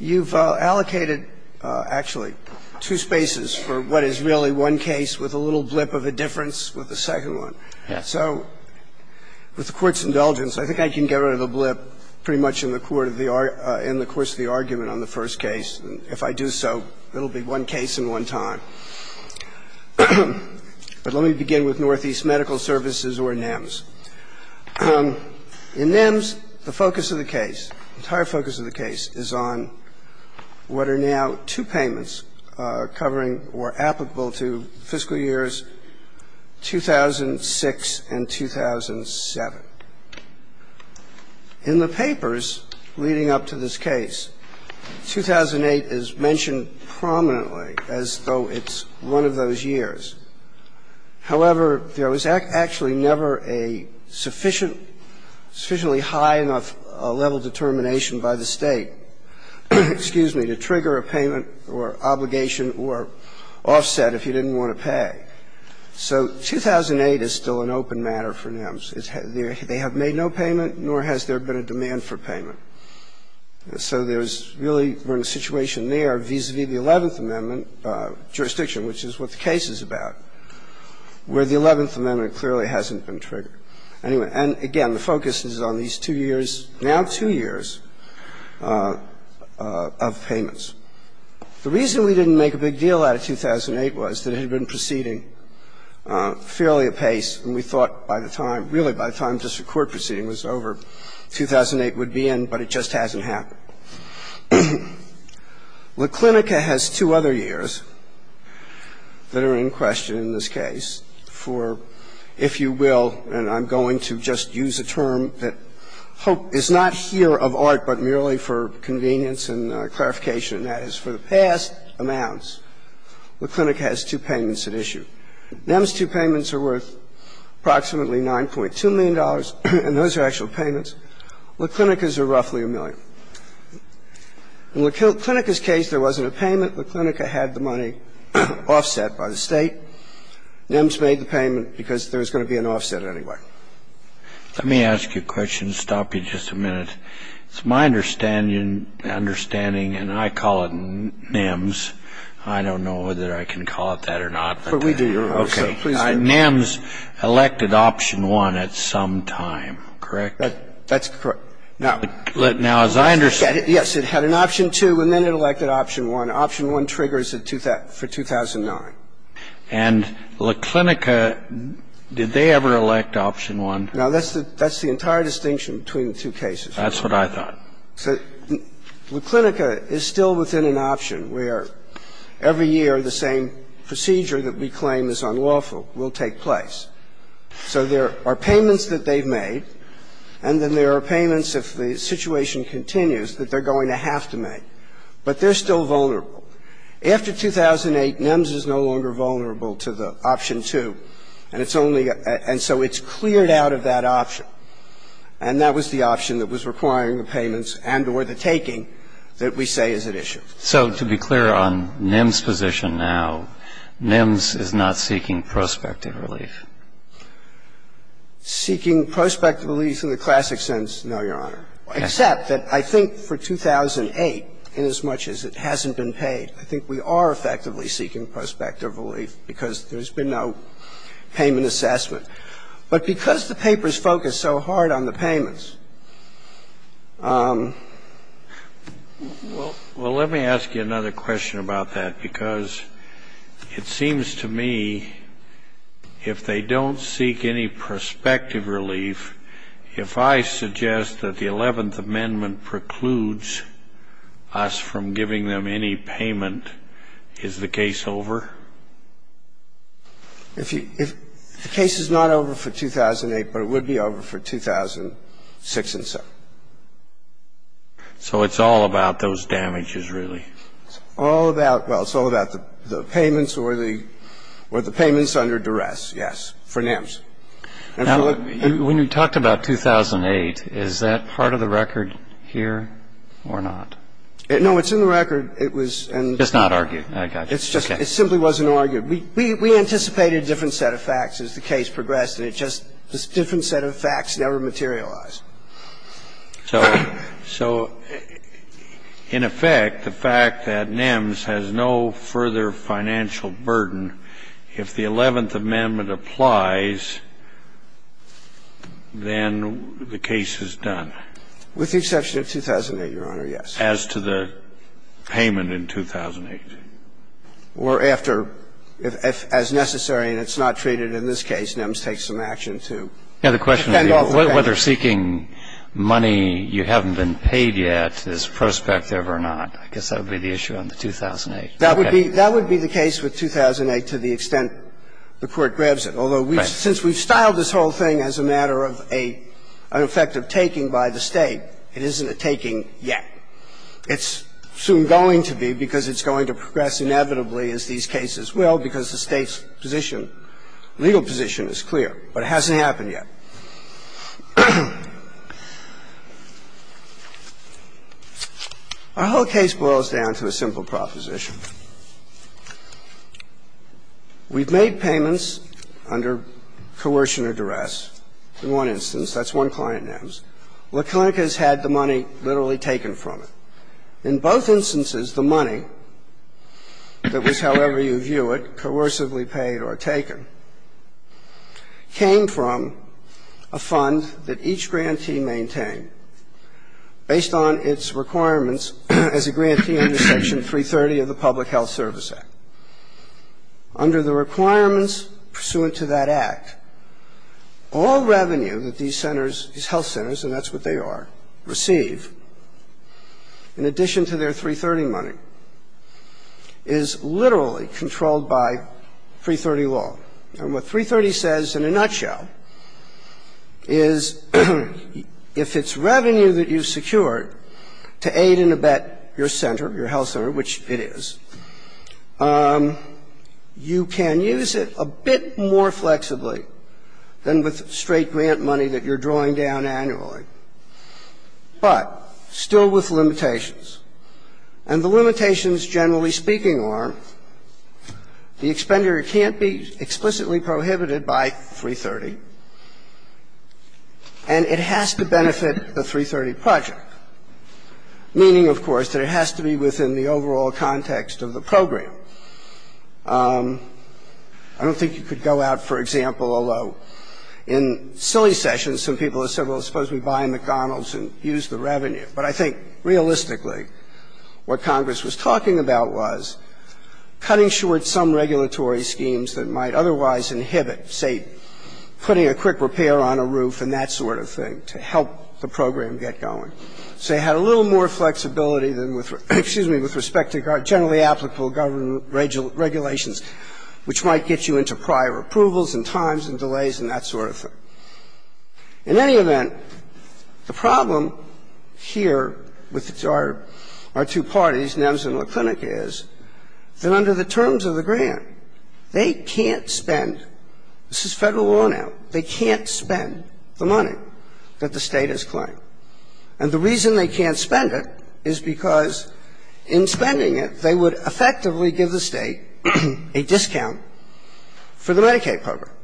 You've allocated, actually, two spaces for what is really one case with a little blip of a difference with the second one. So with the Court's indulgence, I think I can get rid of the blip pretty much in the course of the argument on the first case. If I do so, it will be one case in one time. But let me begin with Northeast Medical Services or NIMS. In NIMS, the focus of the case, the entire focus of the case is on what are now two payments covering or applicable to fiscal years 2006 and 2007. In the papers leading up to this case, 2008 is mentioned prominently as though it's one of those years. However, there was actually never a sufficient, sufficiently high enough level of determination by the State, excuse me, to trigger a payment or obligation or offset if you didn't want to pay. So 2008 is still an open matter for NIMS. They have made no payment, nor has there been a demand for payment. So there's really a situation there vis-à-vis the Eleventh Amendment jurisdiction, which is what the case is about, where the Eleventh Amendment clearly hasn't been triggered. Anyway, and again, the focus is on these two years, now two years of payments. The reason we didn't make a big deal out of 2008 was that it had been proceeding fairly apace, and we thought by the time, really by the time district court proceeding was over, 2008 would be in, but it just hasn't happened. Now, La Clinica has two other years that are in question in this case for, if you will, and I'm going to just use a term that is not here of art, but merely for convenience and clarification, and that is for the past amounts, La Clinica has two payments at issue. NIMS' two payments are worth approximately $9.2 million, and those are actual payments. And the reason we didn't make a big deal out of it is because La Clinica is a roughly a million. In La Clinica's case, there wasn't a payment. La Clinica had the money offset by the State. NIMS made the payment because there was going to be an offset anyway. Let me ask you a question and stop you just a minute. It's my understanding, and I call it NIMS. I don't know whether I can call it that or not. But we do. NIMS elected Option 1 at some time, correct? That's correct. Now, as I understand it, yes, it had an Option 2 and then it elected Option 1. Option 1 triggers for 2009. And La Clinica, did they ever elect Option 1? No, that's the entire distinction between the two cases. That's what I thought. So La Clinica is still within an option where every year the same procedure that we claim is unlawful will take place. So there are payments that they've made, and then there are payments, if the situation continues, that they're going to have to make. But they're still vulnerable. After 2008, NIMS is no longer vulnerable to the Option 2, and it's only ‑‑ and so it's cleared out of that option. And that was the option that was requiring the payments and or the taking that we say is at issue. So to be clear on NIMS' position now, NIMS is not seeking prospective relief. Seeking prospective relief in the classic sense, no, Your Honor, except that I think for 2008, inasmuch as it hasn't been paid, I think we are effectively seeking prospective relief because there's been no payment assessment. But because the papers focus so hard on the payments ‑‑ Well, let me ask you another question about that, because it seems to me if they don't seek any prospective relief, if I suggest that the Eleventh Amendment precludes us from giving them any payment, is the case over? If the case is not over for 2008, but it would be over for 2006 and so. So it's all about those damages, really? It's all about ‑‑ well, it's all about the payments or the payments under duress, yes, for NIMS. Now, when you talked about 2008, is that part of the record here or not? No, it's in the record. It's not argued. I got you. It's just it simply wasn't argued. We anticipated a different set of facts as the case progressed, and it just this different set of facts never materialized. So in effect, the fact that NIMS has no further financial burden, if the Eleventh Amendment applies, then the case is done. With the exception of 2008, Your Honor, yes. As to the payment in 2008. Or after, if as necessary and it's not treated in this case, NIMS takes some action to whether seeking money you haven't been paid yet is prospective or not. I guess that would be the issue on the 2008. That would be the case with 2008 to the extent the Court grabs it. Right. Although since we've styled this whole thing as a matter of an effective taking by the State, it isn't a taking yet. It's soon going to be because it's going to progress inevitably, as these cases will, because the State's position, legal position is clear. But it hasn't happened yet. Our whole case boils down to a simple proposition. We've made payments under coercion or duress. In one instance, that's one client, NIMS. La Clinica's had the money literally taken from it. In both instances, the money that was, however you view it, coercively paid or taken, came from a fund that each grantee maintained based on its requirements as a grantee under Section 330 of the Public Health Service Act. Under the requirements pursuant to that Act, all revenue that these centers, these health centers, and that's what they are, receive in addition to their 330 money is literally controlled by 330 law. And what 330 says in a nutshell is if it's revenue that you secured to aid and abet your center, your health center, which it is, you can use it a bit more flexibly than with straight grant money that you're drawing down annually, but still with limitations. And the limitations, generally speaking, are the expender can't be explicitly prohibited by 330, and it has to benefit the 330 project, meaning, of course, that it has to be within the overall context of the program. I don't think you could go out, for example, although in silly sessions some people have said, well, suppose we buy a McDonald's and use the revenue. But I think realistically what Congress was talking about was cutting short some regulatory schemes that might otherwise inhibit, say, putting a quick repair on a roof and that sort of thing, to help the program get going. Say it had a little more flexibility than with the, excuse me, with respect to generally applicable government regulations, which might get you into prior approvals and times and delays and that sort of thing. In any event, the problem here with our two parties, NEMS and La Clinica, is that under the terms of the grant, they can't spend this is Federal law now. They can't spend the money that the State has claimed. And the reason they can't spend it is because in spending it, they would effectively give the State a discount for the Medicaid program.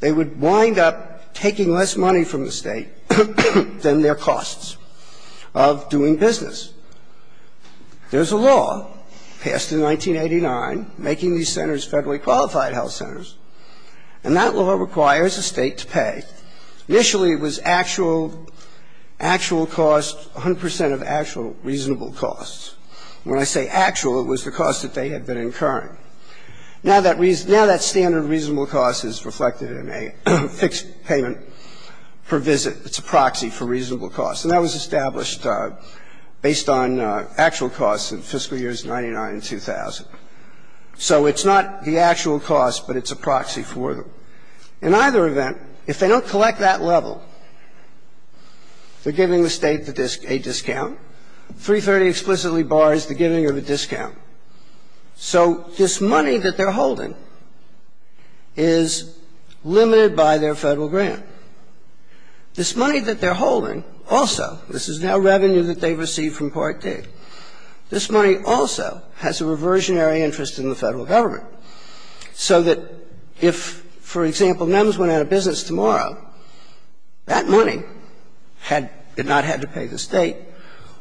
They would wind up taking less money from the State than their costs of doing business. There's a law passed in 1989 making these centers Federally qualified health centers. And that law requires a State to pay. Initially it was actual, actual cost, 100 percent of actual reasonable costs. When I say actual, it was the cost that they had been incurring. Now that standard reasonable cost is reflected in a fixed payment per visit. It's a proxy for reasonable costs. And that was established based on actual costs in fiscal years 99 and 2000. So it's not the actual cost, but it's a proxy for them. In either event, if they don't collect that level, they're giving the State a discount. 330 explicitly bars the giving of a discount. So this money that they're holding is limited by their Federal grant. This money that they're holding also, this is now revenue that they've received from Part D, this money also has a reversionary interest in the Federal government. So that if, for example, MEMS went out of business tomorrow, that money had not had to pay the State,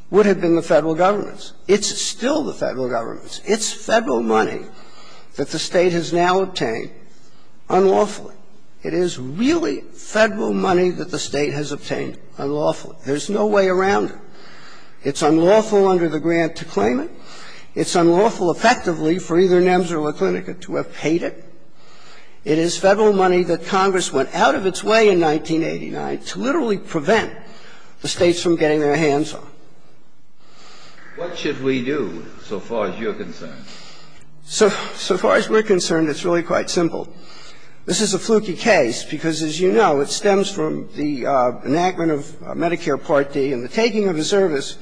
would have been the Federal government's. It's still the Federal government's. It's Federal money that the State has now obtained unlawfully. It is really Federal money that the State has obtained unlawfully. There's no way around it. It's unlawful under the grant to claim it. It's unlawful effectively for either MEMS or La Clinica to have paid it. It is Federal money that Congress went out of its way in 1989 to literally prevent the States from getting their hands on. What should we do, so far as you're concerned? So far as we're concerned, it's really quite simple. This is a fluky case because, as you know, it stems from the enactment of Medicare Part D and the taking of a service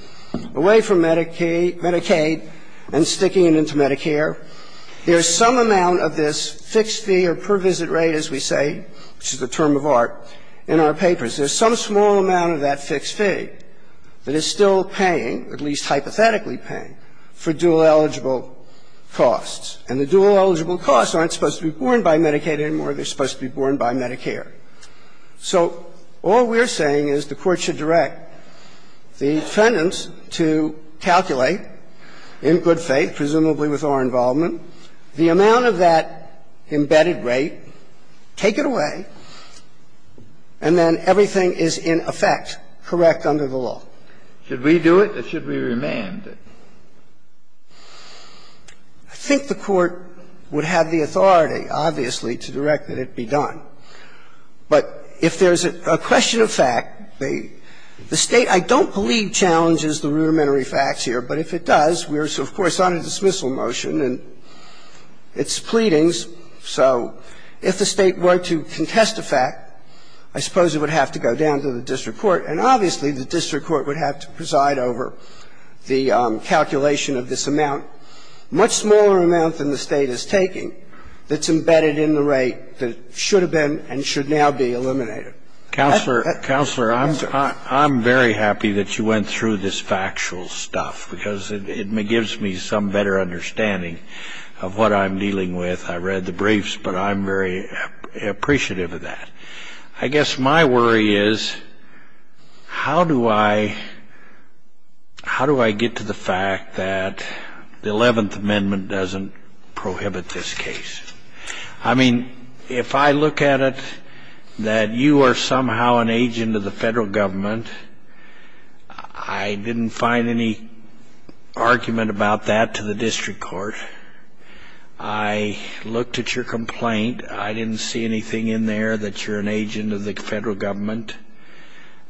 away from Medicaid and sticking it into Medicare. There's some amount of this fixed fee or per visit rate, as we say, which is the term of art, in our papers. There's some small amount of that fixed fee that is still paying, at least hypothetically paying, for dual eligible costs. And the dual eligible costs aren't supposed to be borne by Medicaid anymore. They're supposed to be borne by Medicare. So all we're saying is the Court should direct the defendants to calculate, in good faith, presumably with our involvement, the amount of that embedded rate, take it away, and then everything is, in effect, correct under the law. Should we do it or should we remand it? I think the Court would have the authority, obviously, to direct that it be done. But if there's a question of fact, the State, I don't believe, challenges the rudimentary facts here. But if it does, we're, of course, on a dismissal motion, and it's pleadings. So if the State were to contest a fact, I suppose it would have to go down to the district court. And obviously, the district court would have to preside over the calculation of this amount, much smaller amount than the State is taking, that's embedded in the rate that should have been and should now be eliminated. Scalia. I'm very happy that you went through this factual stuff, because it gives me some better understanding of what I'm dealing with. I read the briefs, but I'm very appreciative of that. I guess my worry is, how do I get to the fact that the Eleventh Amendment doesn't prohibit this case? I mean, if I look at it that you are somehow an agent of the Federal Government, I didn't find any argument about that to the district court. I looked at your complaint. I didn't see anything in there that you're an agent of the Federal Government.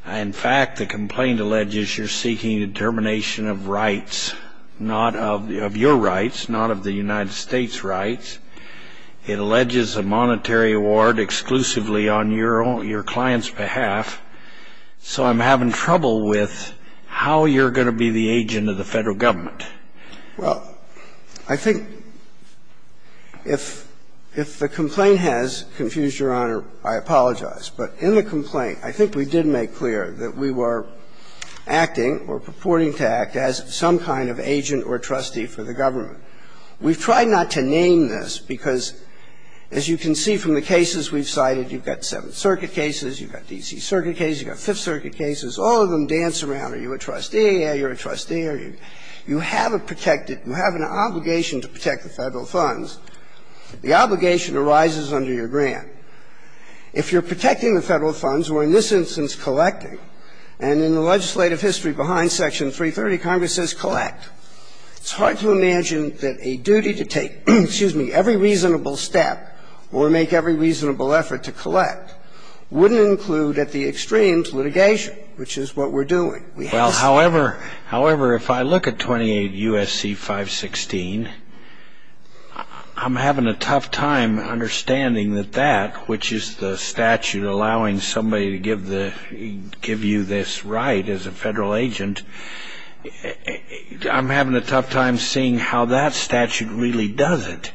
In fact, the complaint alleges you're seeking a determination of rights, not of your rights, not of the United States' rights. It alleges a monetary award exclusively on your client's behalf. So I'm having trouble with how you're going to be the agent of the Federal Government. Well, I think if the complaint has confused Your Honor, I apologize. But in the complaint, I think we did make clear that we were acting or purporting to act as some kind of agent or trustee for the government. We've tried not to name this, because as you can see from the cases we've cited, you've got Seventh Circuit cases, you've got D.C. Circuit cases, you've got Fifth Circuit cases. All of them dance around. Are you a trustee? Are you a trustee? You have a protected you have an obligation to protect the Federal funds. The obligation arises under your grant. If you're protecting the Federal funds, or in this instance collecting, and in the legislative history behind Section 330, Congress says collect, it's hard to imagine that a duty to take, excuse me, every reasonable step or make every reasonable effort to collect wouldn't include at the extremes litigation, which is what we're doing. Well, however, if I look at 28 U.S.C. 516, I'm having a tough time understanding that that, which is the statute allowing somebody to give you this right as a Federal agent, I'm having a tough time seeing how that statute really does it.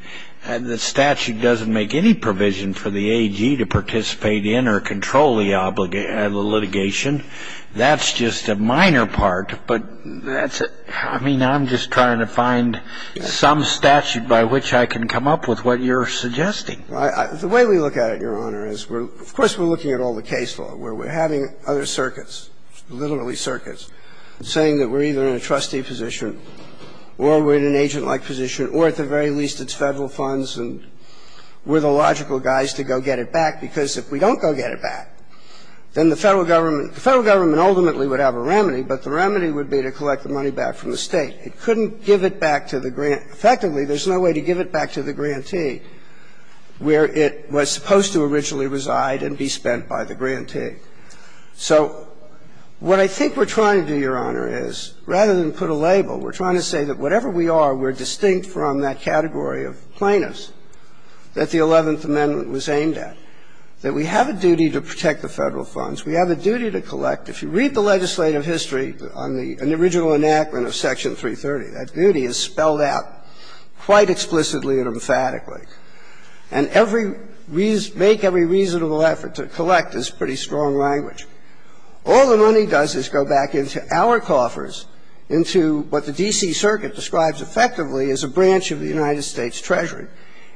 The statute doesn't make any provision for the AG to participate in or control the litigation. That's just a minor part, but that's a – I mean, I'm just trying to find some statute by which I can come up with what you're suggesting. The way we look at it, Your Honor, is we're – of course, we're looking at all the case law where we're having other circuits, literally circuits, saying that we're either in a trustee position or we're in an agent-like position or at the very least it's Federal funds and we're the logical guys to go get it back, because if we don't go get it back, then the Federal Government – the Federal Government ultimately would have a remedy, but the remedy would be to collect the money back from the State. It couldn't give it back to the grant – effectively, there's no way to give it back to the grantee where it was supposed to originally reside and be spent by the grantee. So what I think we're trying to do, Your Honor, is rather than put a label, we're trying to say that whatever we are, we're distinct from that category of plaintiffs that the Eleventh Amendment was aimed at, that we have a duty to protect the Federal funds, we have a duty to collect. If you read the legislative history on the original enactment of Section 330, that duty is spelled out quite explicitly and emphatically. And every reason – make every reasonable effort to collect is pretty strong language. All the money does is go back into our coffers, into what the D.C. Circuit describes effectively as a branch of the United States Treasury.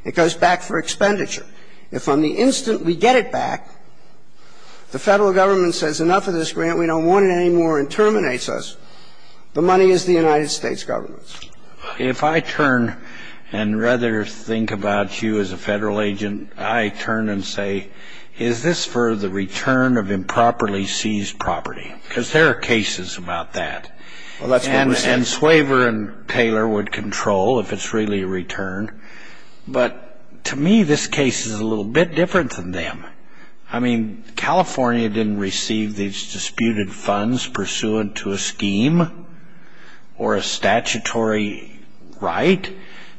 It goes back for expenditure. If on the instant we get it back, the Federal Government says enough of this grant, we don't want it anymore, and terminates us, the money is the United States Government's. If I turn and rather think about you as a Federal agent, I turn and say, is this for the return of improperly seized property? Because there are cases about that. Well, that's what we're saying. And Swaver and Taylor would control if it's really a return. But to me, this case is a little bit different than them. I mean, California didn't receive these disputed funds pursuant to a scheme or a statutory right.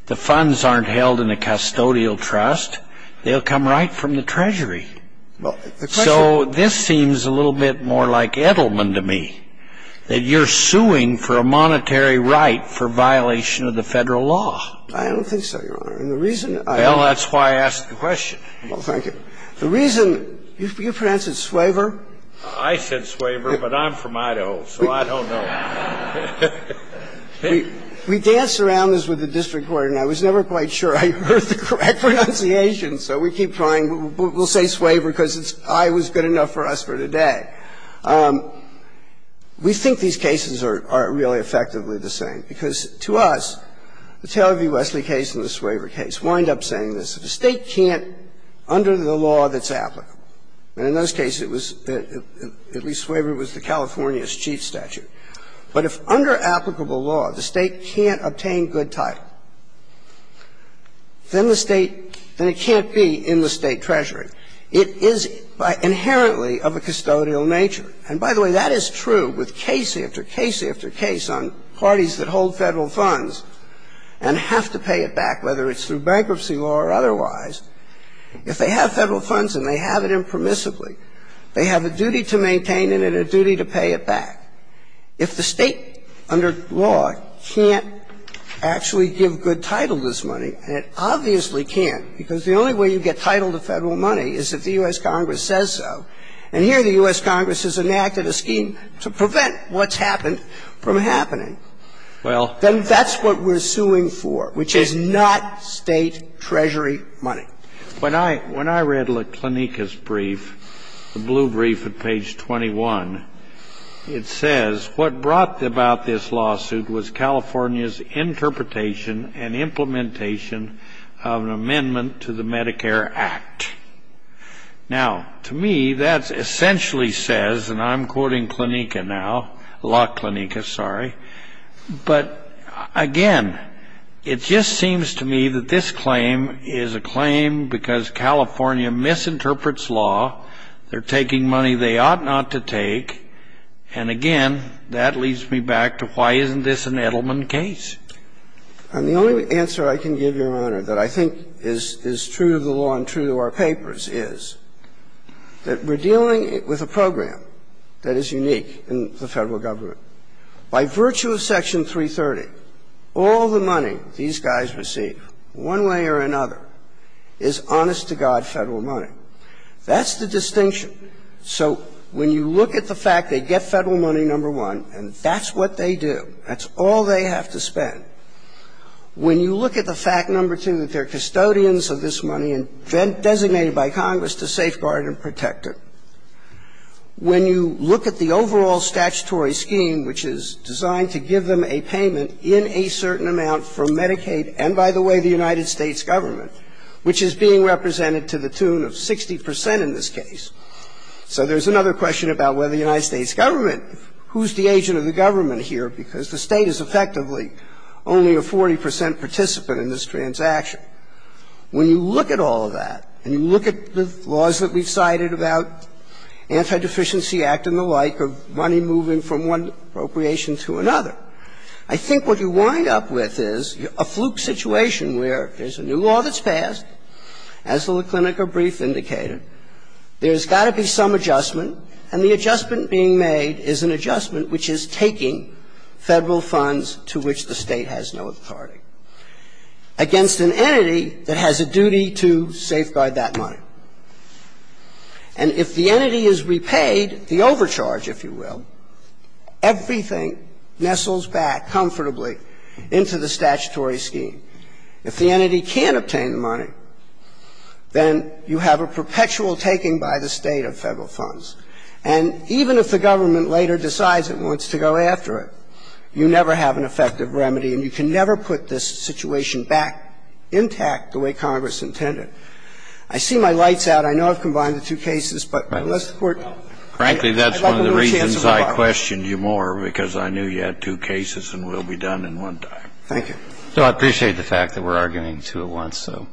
The funds aren't held in a custodial trust. They'll come right from the Treasury. So this seems a little bit more like Edelman to me, that you're suing for a monetary right for violation of the Federal law. I don't think so, Your Honor. And the reason I don't think so. Well, that's why I asked the question. Well, thank you. The reason you pronounce it Swaver. I said Swaver, but I'm from Idaho, so I don't know. We dance around this with the district court, and I was never quite sure I heard the correct pronunciation. So we keep trying. We'll say Swaver because I was good enough for us for today. We think these cases are really effectively the same, because to us, the Taylor v. Wesley case and the Swaver case wind up saying this. If a State can't, under the law that's applicable, and in those cases it was at least Swaver was the California's chief statute. But if under applicable law the State can't obtain good title, then the State, then it can't be in the State treasury. It is inherently of a custodial nature. And by the way, that is true with case after case after case on parties that hold Federal funds and have to pay it back, whether it's through bankruptcy law or otherwise. If they have Federal funds and they have it impermissibly, they have a duty to maintain it and a duty to pay it back. If the State, under law, can't actually give good title to this money, and it obviously can't, because the only way you get title to Federal money is if the U.S. Congress says so, and here the U.S. Congress has enacted a scheme to prevent what's happened from happening. Then that's what we're suing for, which is not State treasury money. When I read LaClanica's brief, the blue brief at page 21, it says, what brought about this lawsuit was California's interpretation and implementation of an amendment to the Medicare Act. Now, to me, that essentially says, and I'm quoting LaClanica now, but again, it just seems to me that this claim is a claim because California misinterprets law, they're taking money they ought not to take, and again, that leads me back to why isn't this an Edelman case. And the only answer I can give, Your Honor, that I think is true of the law and true to our papers is that we're dealing with a program that is unique in the Federal government. By virtue of Section 330, all the money these guys receive, one way or another, is honest-to-God Federal money. That's the distinction. So when you look at the fact they get Federal money, number one, and that's what they do, that's all they have to spend. When you look at the fact, number two, that they're custodians of this money and designated by Congress to safeguard and protect it, when you look at the overall statutory scheme, which is designed to give them a payment in a certain amount for Medicaid and, by the way, the United States government, which is being represented to the tune of 60 percent in this case. So there's another question about whether the United States government, who's the agent of the government here, because the State is effectively only a 40 percent participant in this transaction. When you look at all of that and you look at the laws that we've cited about Antideficiency Act and the like, of money moving from one appropriation to another, I think what you wind up with is a fluke situation where there's a new law that's being passed, as the LaClinica brief indicated. There's got to be some adjustment, and the adjustment being made is an adjustment which is taking Federal funds to which the State has no authority against an entity that has a duty to safeguard that money. And if the entity is repaid, the overcharge, if you will, everything nestles back comfortably into the statutory scheme. If the entity can't obtain the money, then you have a perpetual taking by the State of Federal funds. And even if the government later decides it wants to go after it, you never have an effective remedy, and you can never put this situation back intact the way Congress intended. I see my light's out. I know I've combined the two cases, but unless the Court needs me, I'd like to have a chance at rebuttal. Kennedy, that's one of the reasons I questioned you more, because I knew you had two cases and we'll be done in one time. Thank you. No, I appreciate the fact that we're arguing two at once, so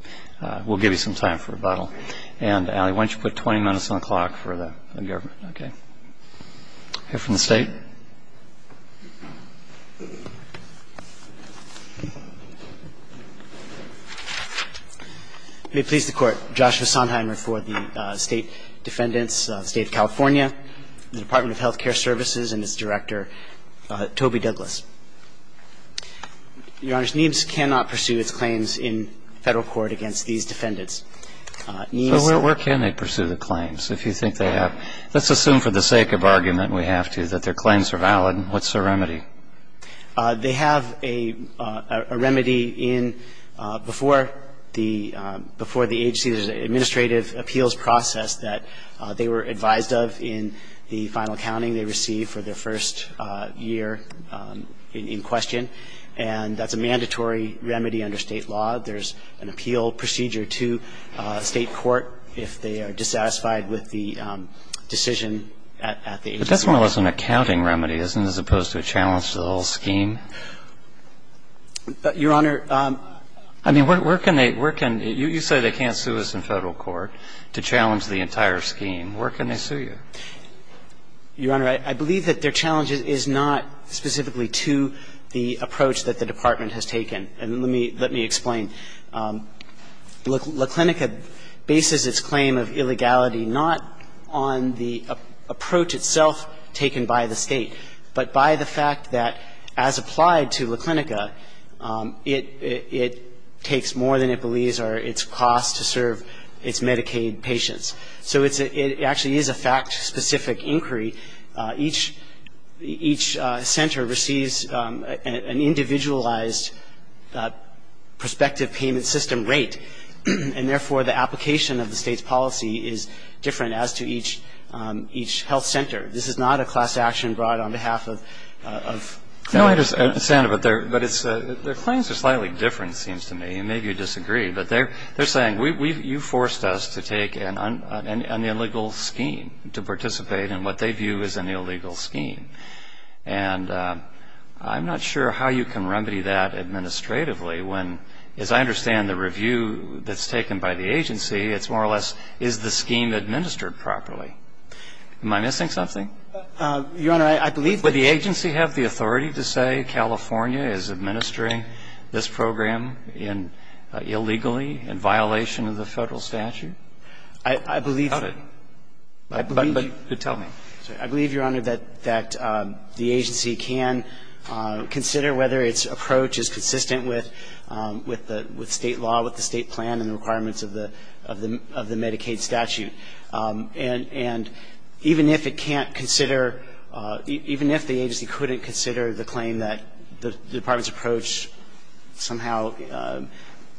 we'll give you some time for rebuttal. And, Allie, why don't you put 20 minutes on the clock for the government? Okay. We'll hear from the State. May it please the Court. Joshua Sondheimer for the State Defendants, the State of California, the Department of Health Care Services, and its director, Toby Douglas. Your Honor, NIEMS cannot pursue its claims in Federal court against these defendants. NIEMS can't. But where can they pursue the claims if you think they have? Let's assume for the sake of argument we have to that their claims are valid. What's the remedy? They have a remedy in before the AHC, there's an administrative appeals process that they were advised of in the final counting they received for their first year in question, and that's a mandatory remedy under State law. There's an appeal procedure to State court if they are dissatisfied with the decision at the AHC. But that's more or less an accounting remedy, isn't it, as opposed to a challenge to the whole scheme? Your Honor, I mean, where can they – you say they can't sue us in Federal court to challenge the entire scheme. Where can they sue you? Your Honor, I believe that their challenge is not specifically to the approach that the Department has taken. And let me explain. La Clinica bases its claim of illegality not on the approach itself taken by the State, but by the fact that as applied to La Clinica, it takes more than it believes or its costs to serve its Medicaid patients. So it actually is a fact-specific inquiry. Each center receives an individualized prospective payment system rate, and therefore, the application of the State's policy is different as to each health center. This is not a class action brought on behalf of Federal. No, I understand, but their claims are slightly different, it seems to me, and maybe you disagree. But they're saying, you forced us to take an illegal scheme, to participate in what they view as an illegal scheme. And I'm not sure how you can remedy that administratively when, as I understand the review that's taken by the agency, it's more or less, is the scheme administered properly? Am I missing something? Your Honor, I believe that the agency has the authority to say California is administering this program illegally, in violation of the Federal statute. I believe you're under that the agency can consider whether its approach is consistent with State law, with the State plan, and the requirements of the Medicaid statute. And even if it can't consider, even if the agency couldn't consider the claim that the Department's approach somehow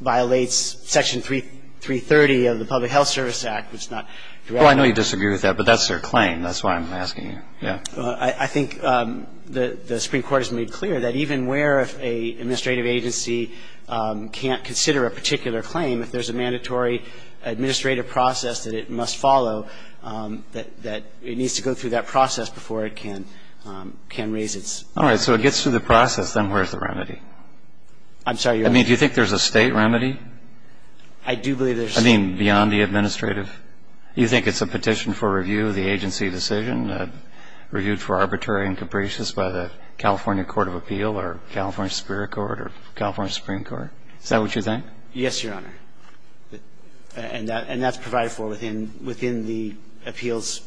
violates Section 330 of the Public Health Service Act, which is not directly the case. Well, I know you disagree with that, but that's their claim. That's why I'm asking you. Yeah. Well, I think the Supreme Court has made clear that even where if an administrative agency can't consider a particular claim, if there's a mandatory administrative process that it must follow, that it needs to go through that process before it can raise its claim. All right. So it gets through the process. Then where's the remedy? I'm sorry, Your Honor? I mean, do you think there's a State remedy? I do believe there's a State remedy. I mean, beyond the administrative? Do you think it's a petition for review of the agency decision, reviewed for arbitrary and capricious by the California Court of Appeal or California Superior Court or California Supreme Court? Is that what you think? Yes, Your Honor. And that's provided for within the appeals,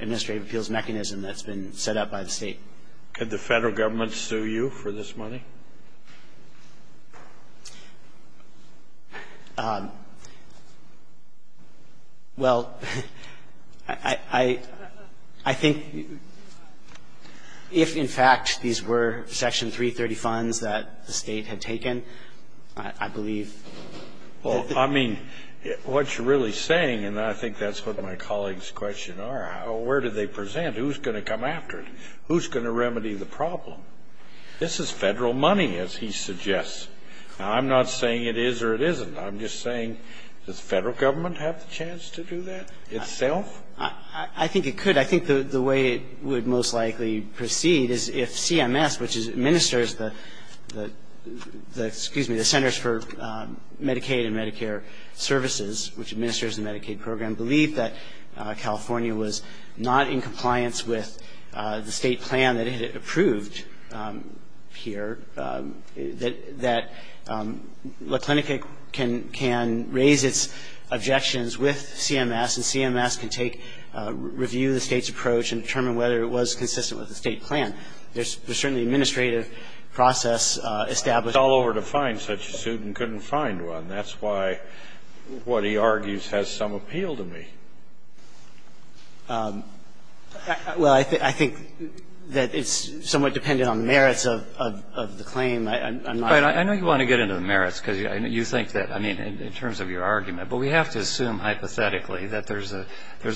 administrative appeals mechanism that's been set up by the State. Could the Federal Government sue you for this money? Well, I think if, in fact, these were Section 330 funds that the State had taken, I believe that the Fed would have sued me. Well, I mean, what you're really saying, and I think that's what my colleagues' question are, where do they present? Who's going to come after it? Who's going to remedy the problem? This is Federal money, as he suggests. Now, I'm not saying it is or it isn't. I'm just saying, does the Federal Government have the chance to do that itself? I think it could. I think the way it would most likely proceed is if CMS, which administers the Centers for Medicaid and Medicare Services, which administers the Medicaid program, believed that California was not in compliance with the State plan that it had approved here, that La Clinica can raise its objections with CMS, and CMS can take, review the State's approach and determine whether it was consistent with the State plan. There's certainly an administrative process established. I called over to find such a suit and couldn't find one. And that's why what he argues has some appeal to me. Well, I think that it's somewhat dependent on merits of the claim. I'm not going to get into the merits, because you think that, I mean, in terms of your argument. But we have to assume hypothetically that there's a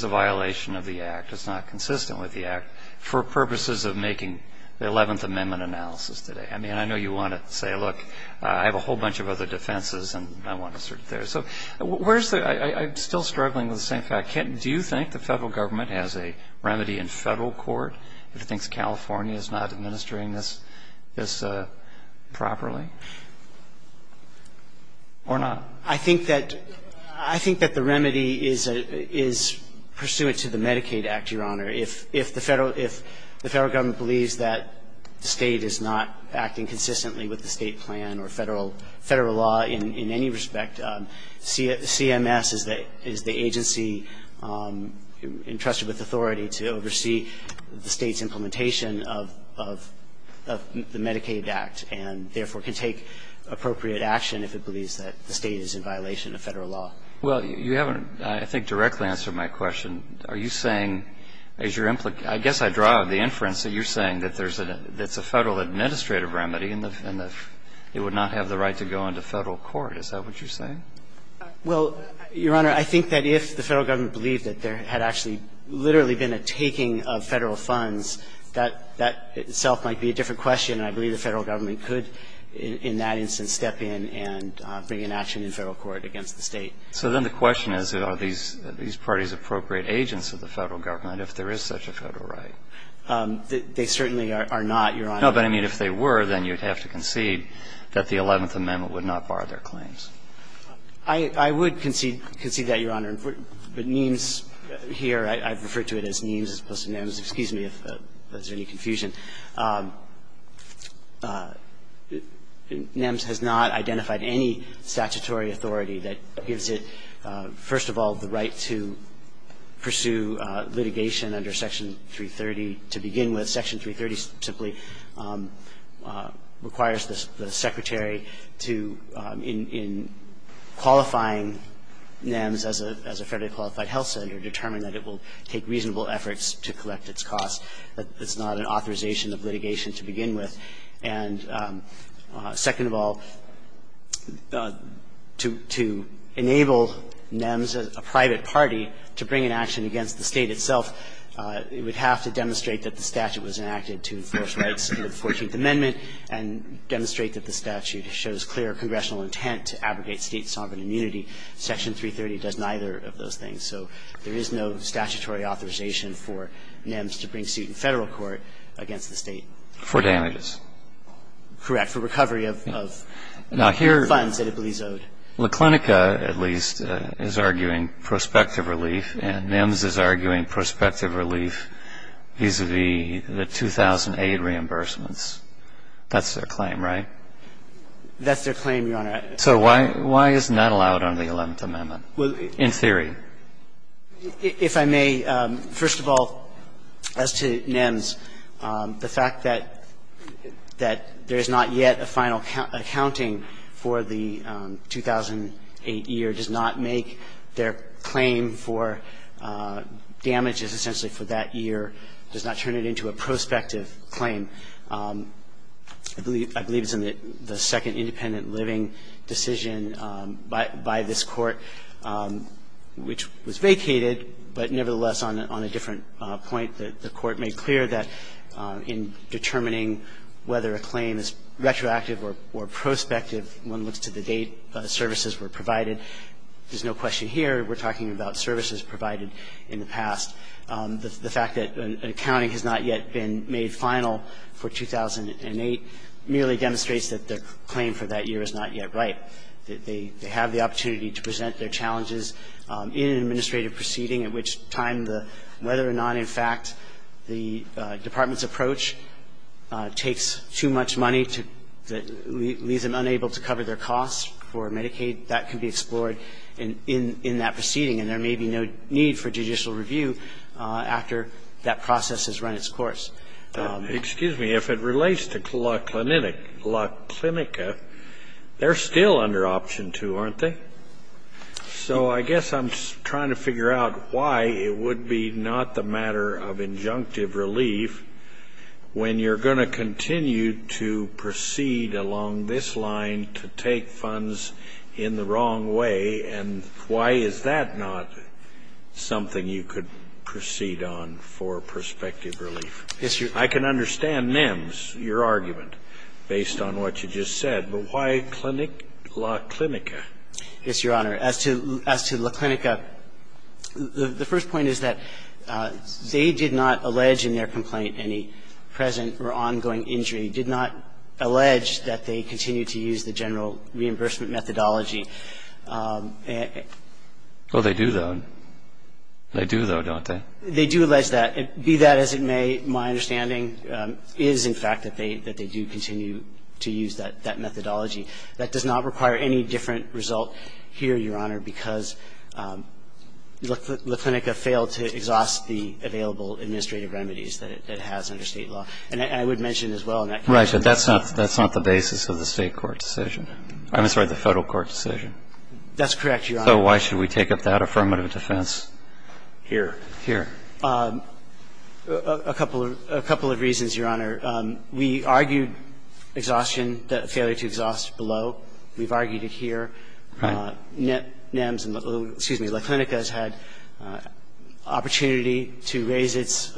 violation of the Act. It's not consistent with the Act for purposes of making the Eleventh Amendment analysis today. I mean, I know you want to say, look, I have a whole bunch of other defenses and I want to sort it there. So where's the – I'm still struggling with the same fact. Do you think the Federal Government has a remedy in Federal court if it thinks California is not administering this properly, or not? I think that the remedy is pursuant to the Medicaid Act, Your Honor. If the Federal Government believes that the State is not acting consistently with the State plan or Federal law in any respect, CMS is the agency entrusted with authority to oversee the State's implementation of the Medicaid Act, and therefore can take appropriate action if it believes that the State is in violation of Federal law. Well, you haven't, I think, directly answered my question. Are you saying, as your – I guess I draw the inference that you're saying that there's a – that's a Federal administrative remedy and that it would not have the right to go into Federal court. Is that what you're saying? Well, Your Honor, I think that if the Federal Government believed that there had actually literally been a taking of Federal funds, that itself might be a different question. And I believe the Federal Government could in that instance step in and bring an action in Federal court against the State. So then the question is, are these parties appropriate agents of the Federal Government if there is such a Federal right? They certainly are not, Your Honor. No, but I mean, if they were, then you'd have to concede that the Eleventh Amendment would not bar their claims. I would concede that, Your Honor. But NEMS here, I've referred to it as NEMS as opposed to NEMS. Excuse me if there's any confusion. NEMS has not identified any statutory authority that gives it, first of all, the right to pursue litigation under Section 330. To begin with, Section 330 simply requires the Secretary to, in qualifying NEMS as a federally qualified health center, determine that it will take reasonable efforts to collect its costs. It's not an authorization of litigation to begin with. And second of all, to enable NEMS, a private party, to bring an action against the State itself, it would have to demonstrate that the statute was enacted to enforce rights under the Fourteenth Amendment and demonstrate that the statute shows clear congressional intent to abrogate State sovereign immunity. Section 330 does neither of those things. So there is no statutory authorization for NEMS to bring suit in Federal court against the State. For damages. Correct. For recovery of funds that it believes owed. Now, here, La Clinica, at least, is arguing prospective relief, and NEMS is arguing prospective relief vis-a-vis the 2,008 reimbursements. That's their claim, right? That's their claim, Your Honor. So why isn't that allowed under the Eleventh Amendment, in theory? If I may, first of all, as to NEMS, the fact that there is not yet a final accounting for the 2,008 year does not make their claim for damages, essentially, for that year, does not turn it into a prospective claim. I believe it's in the second independent living decision by this Court. Which was vacated, but nevertheless, on a different point, the Court made clear that in determining whether a claim is retroactive or prospective, one looks to the date services were provided. There's no question here. We're talking about services provided in the past. The fact that an accounting has not yet been made final for 2,008 merely demonstrates that the claim for that year is not yet right. They have the opportunity to present their challenges in an administrative proceeding at which time, whether or not, in fact, the department's approach takes too much money to leave them unable to cover their costs for Medicaid, that can be explored in that proceeding. And there may be no need for judicial review after that process has run its course. Excuse me. If it relates to La Clinica, they're still under option two, aren't they? So I guess I'm trying to figure out why it would be not the matter of injunctive relief when you're going to continue to proceed along this line to take funds in the wrong way, and why is that not something you could proceed on for prospective relief? Yes, Your Honor. I can understand Mims, your argument, based on what you just said, but why La Clinica? Yes, Your Honor. As to La Clinica, the first point is that they did not allege in their complaint any present or ongoing injury, did not allege that they continued to use the general reimbursement methodology. Well, they do, though. They do, though, don't they? They do allege that. Be that as it may, my understanding is, in fact, that they do continue to use that methodology. That does not require any different result here, Your Honor, because La Clinica failed to exhaust the available administrative remedies that it has under State law. And I would mention as well in that case that the State court decision, I'm sorry, the Federal court decision. That's correct, Your Honor. So why should we take up that affirmative defense here? Here. A couple of reasons, Your Honor. We argued exhaustion, the failure to exhaust below. We've argued it here. Right. NEMS and, excuse me, La Clinica has had opportunity to raise its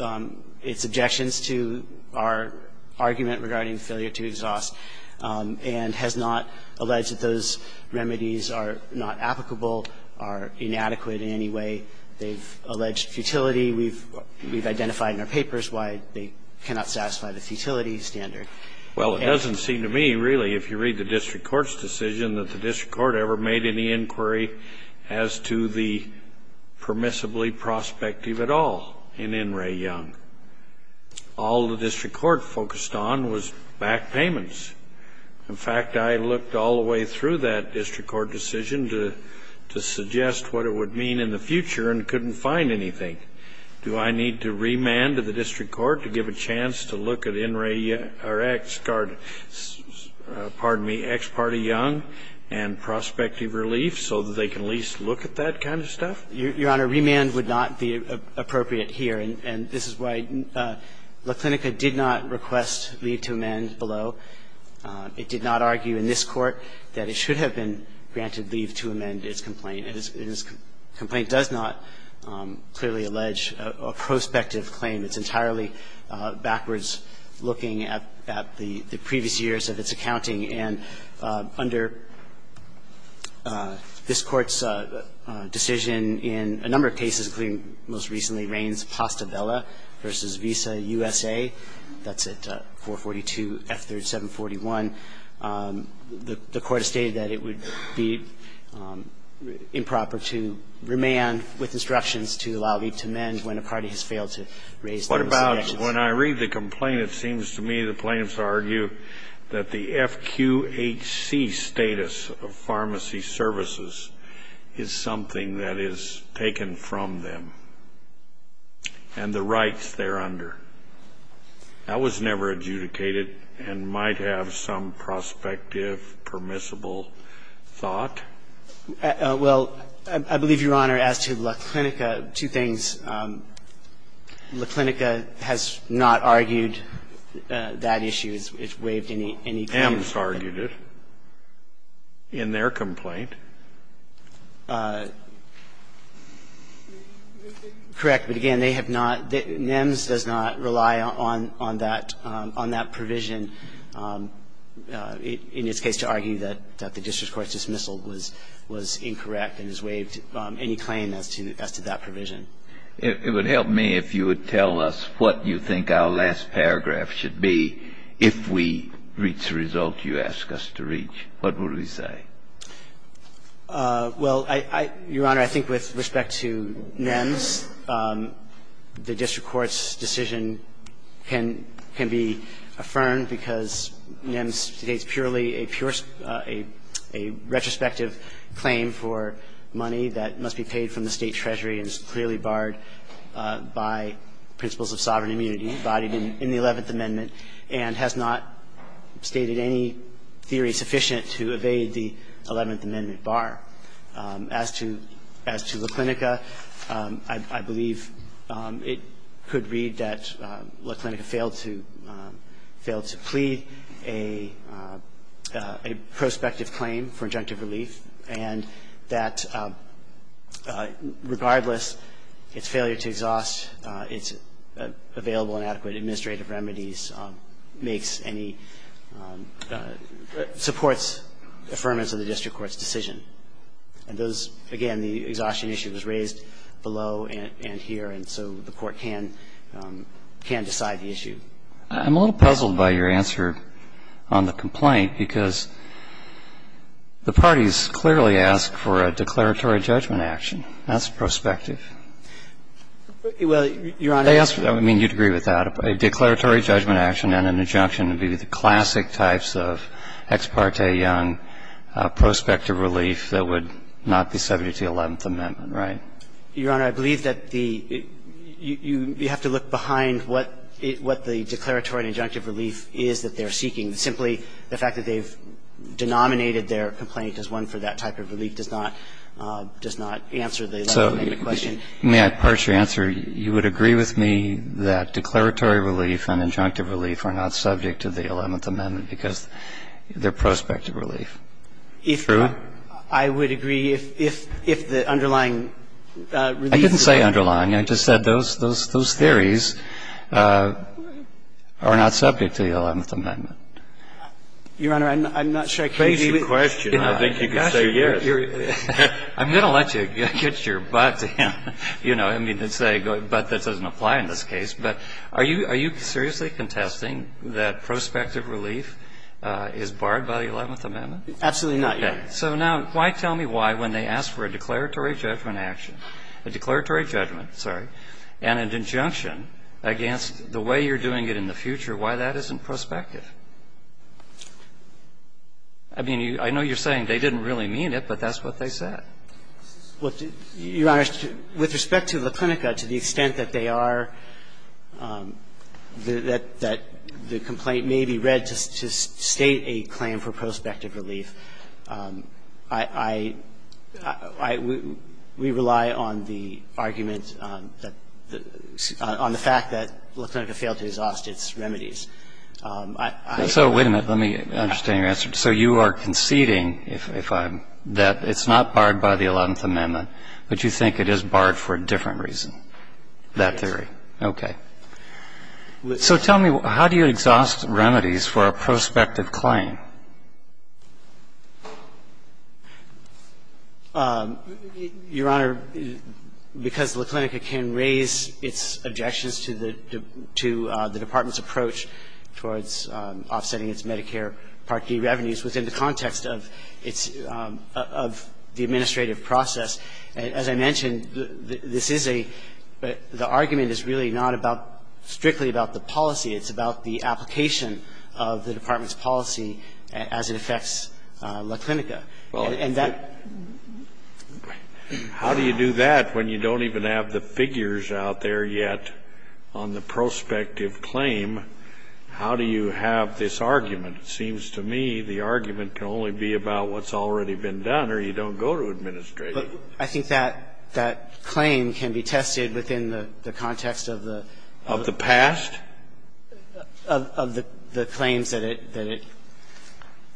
objections to our argument regarding failure to exhaust and has not alleged that those remedies are not applicable, are inadequate in any way. They've alleged futility. We've identified in our papers why they cannot satisfy the futility standard. Well, it doesn't seem to me, really, if you read the district court's decision, that the district court ever made any inquiry as to the permissibly prospective at all in In re Young. All the district court focused on was back payments. In fact, I looked all the way through that district court decision to suggest what it would mean in the future and couldn't find anything. Do I need to remand to the district court to give a chance to look at In re Young or X, pardon me, X Party Young and prospective relief so that they can at least look at that kind of stuff? Your Honor, remand would not be appropriate here, and this is why La Clinica did not request leave to amend below. It did not argue in this court that it should have been granted leave to amend its claim. This complaint does not clearly allege a prospective claim. It's entirely backwards looking at the previous years of its accounting. And under this Court's decision in a number of cases, including most recently Raines-Pastabella v. Visa USA, that's at 442 F-3741, the Court has stated that it would be improper to remand with instructions to allow leave to amend when a party has failed to raise those objections. What about when I read the complaint, it seems to me the plaintiffs argue that the FQHC status of pharmacy services is something that is taken from them and the rights they're under. That was never adjudicated and might have some prospective permissible thought. Well, I believe, Your Honor, as to La Clinica, two things. La Clinica has not argued that issue. It's waived any claim. NEMS argued it in their complaint. Correct. But again, they have not – NEMS does not rely on that provision in its case to argue that the district court's dismissal was incorrect and has waived any claim as to that provision. It would help me if you would tell us what you think our last paragraph should be if we reach the result you ask us to reach. What would we say? Well, I – Your Honor, I think with respect to NEMS, the district court's decision can – can be affirmed because NEMS states purely a pure – a retrospective claim for money that must be paid from the State treasury and is clearly barred by principles of sovereign immunity embodied in the Eleventh Amendment and has not stated any theory sufficient to evade the Eleventh Amendment bar. As to – as to La Clinica, I believe it could read that La Clinica failed to – failed to plead a – a prospective claim for injunctive relief and that regardless its failure to exhaust its available and adequate administrative remedies makes any – supports affirmance of the district court's decision. And those – again, the exhaustion issue was raised below and here, and so the court can – can decide the issue. I'm a little puzzled by your answer on the complaint because the parties clearly ask for a declaratory judgment action. That's prospective. Well, Your Honor, I mean, you'd agree with that. A declaratory judgment action and an injunction would be the classic types of ex parte young prospective relief that would not be subject to the Eleventh Amendment, right? Your Honor, I believe that the – you have to look behind what the declaratory and injunctive relief is that they're seeking. Simply the fact that they've denominated their complaint as one for that type of relief does not – does not answer the Eleventh Amendment question. May I parse your answer? You would agree with me that declaratory relief and injunctive relief are not subject to the Eleventh Amendment because they're prospective relief. True? I would agree if – if the underlying relief was not subject to the Eleventh Amendment. I didn't say underlying. I just said those – those theories are not subject to the Eleventh Amendment. Your Honor, I'm not sure I can agree with you. Raise your question. I think you can say yes. I'm going to let you get your butt in, you know, I mean, but that doesn't apply in this case, but are you – are you seriously contesting that prospective relief is barred by the Eleventh Amendment? Absolutely not, Your Honor. So now why tell me why when they ask for a declaratory judgment action – a declaratory judgment, sorry, and an injunction against the way you're doing it in the future, why that isn't prospective? I mean, I know you're saying they didn't really mean it, but that's what they said. Well, Your Honor, with respect to La Clinica, to the extent that they are – that the complaint may be read to state a claim for prospective relief, I – we rely on the argument that – on the fact that La Clinica failed to exhaust its remedies. So wait a minute. Let me understand your answer. So you are conceding, if I'm – that it's not barred by the Eleventh Amendment, but you think it is barred for a different reason, that theory? Yes. Okay. So tell me, how do you exhaust remedies for a prospective claim? Your Honor, because La Clinica can raise its objections to the department's approach towards offsetting its Medicare Part D revenues within the context of its – of the administrative process. As I mentioned, this is a – the argument is really not about – strictly about the policy. It's about the application of the department's policy as it affects La Clinica. And that – Well, how do you do that when you don't even have the figures out there yet on the prospective claim? How do you have this argument? It seems to me the argument can only be about what's already been done or you don't go to administrative. I think that – that claim can be tested within the context of the – Of the past? Of the claims that it –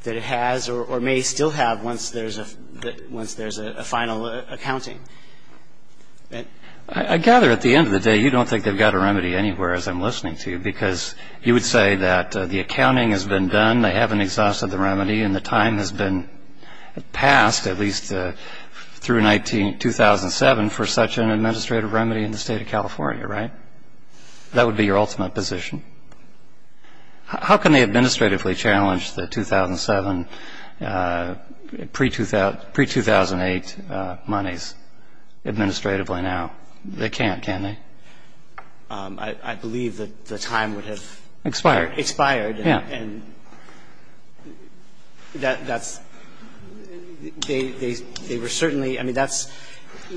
that it has or may still have once there's a – once there's a final accounting. I gather at the end of the day you don't think they've got a remedy anywhere as I'm listening to you, because you would say that the accounting has been done, they haven't exhausted the remedy, and the time has been passed, at least through 19 – 2007 for such an administrative remedy in the state of California, right? That would be your ultimate position. I mean, how can they administratively challenge the 2007 pre-2008 monies administratively now? They can't, can they? I believe that the time would have expired. Expired, yeah. And that's – they were certainly – I mean, that's –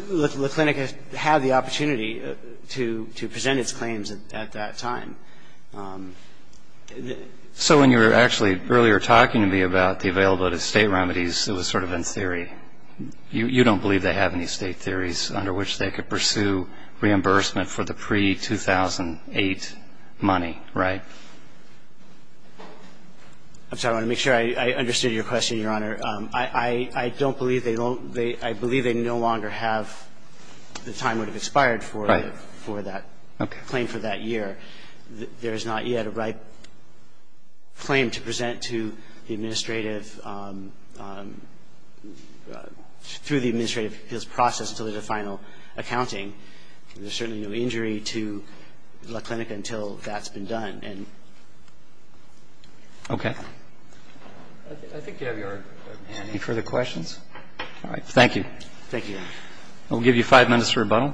La Clinica had the opportunity to present its claims at that time. So when you were actually earlier talking to me about the availability of state remedies, it was sort of in theory. You don't believe they have any state theories under which they could pursue reimbursement for the pre-2008 money, right? I'm sorry. I want to make sure I understood your question, Your Honor. I don't believe they don't – I believe they no longer have the time would have expired for that claim for that year. There is not yet a right claim to present to the administrative – through the administrative appeals process to leave the final accounting. There's certainly no injury to La Clinica until that's been done. And – Okay. I think you have your hand up. Any further questions? All right. Thank you, Your Honor. We'll give you five minutes for rebuttal.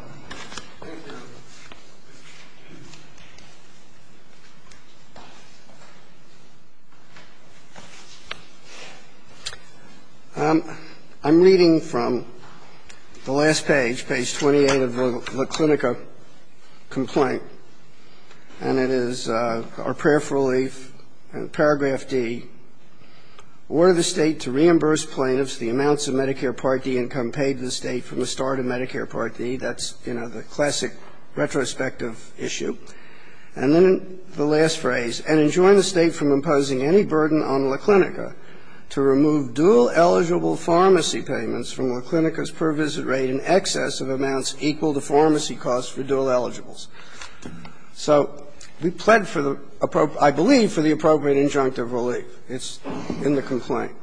I'm reading from the last page, page 28 of La Clinica complaint, and it is our prayer for relief, paragraph D, order the State to reimburse plaintiffs the amounts of Medicare Part D income paid to the State from the start of Medicare Part D. That's, you know, the classic retrospective issue. And then the last phrase, and enjoin the State from imposing any burden on La Clinica to remove dual eligible pharmacy payments from La Clinica's per visit rate in excess of amounts equal to pharmacy costs for dual eligibles. So we plead for the – I believe for the appropriate injunctive relief. It's in the complaint.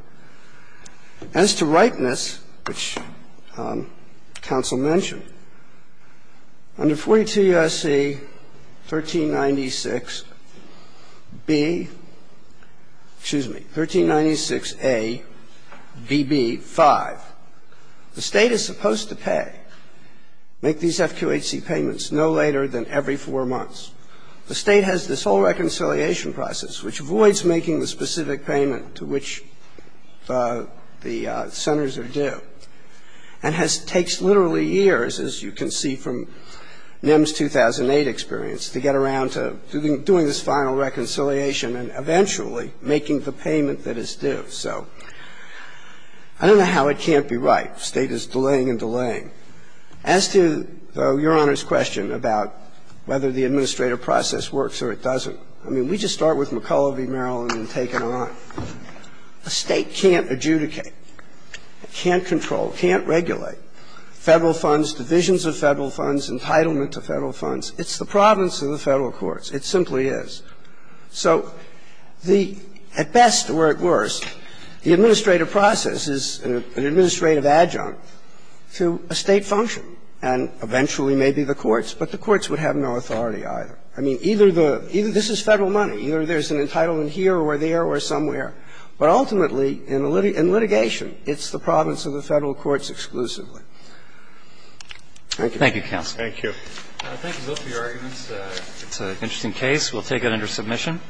As to ripeness, which counsel mentioned, under 42 U.S.C. 1396B – excuse me, 1396ABB5, the State is supposed to pay, make these FQHC payments no later than every four months. The State has this whole reconciliation process which avoids making the specific payment to which the centers are due and has – takes literally years, as you can see from NIMS 2008 experience, to get around to doing this final reconciliation and eventually making the payment that is due. So I don't know how it can't be right. The State is delaying and delaying. As to Your Honor's question about whether the administrative process works or it doesn't, I mean, we just start with McCulloch v. Maryland and take it on. A State can't adjudicate, can't control, can't regulate Federal funds, divisions of Federal funds, entitlement to Federal funds. It's the province of the Federal courts. It simply is. So the – at best or at worst, the administrative process is an administrative adjunct to a State function and eventually maybe the courts, but the courts would have no authority either. I mean, either the – this is Federal money. Either there's an entitlement here or there or somewhere. But ultimately, in litigation, it's the province of the Federal courts exclusively. Thank you. Thank you, counsel. Thank you. Thank you both for your arguments. It's an interesting case. We'll take it under submission.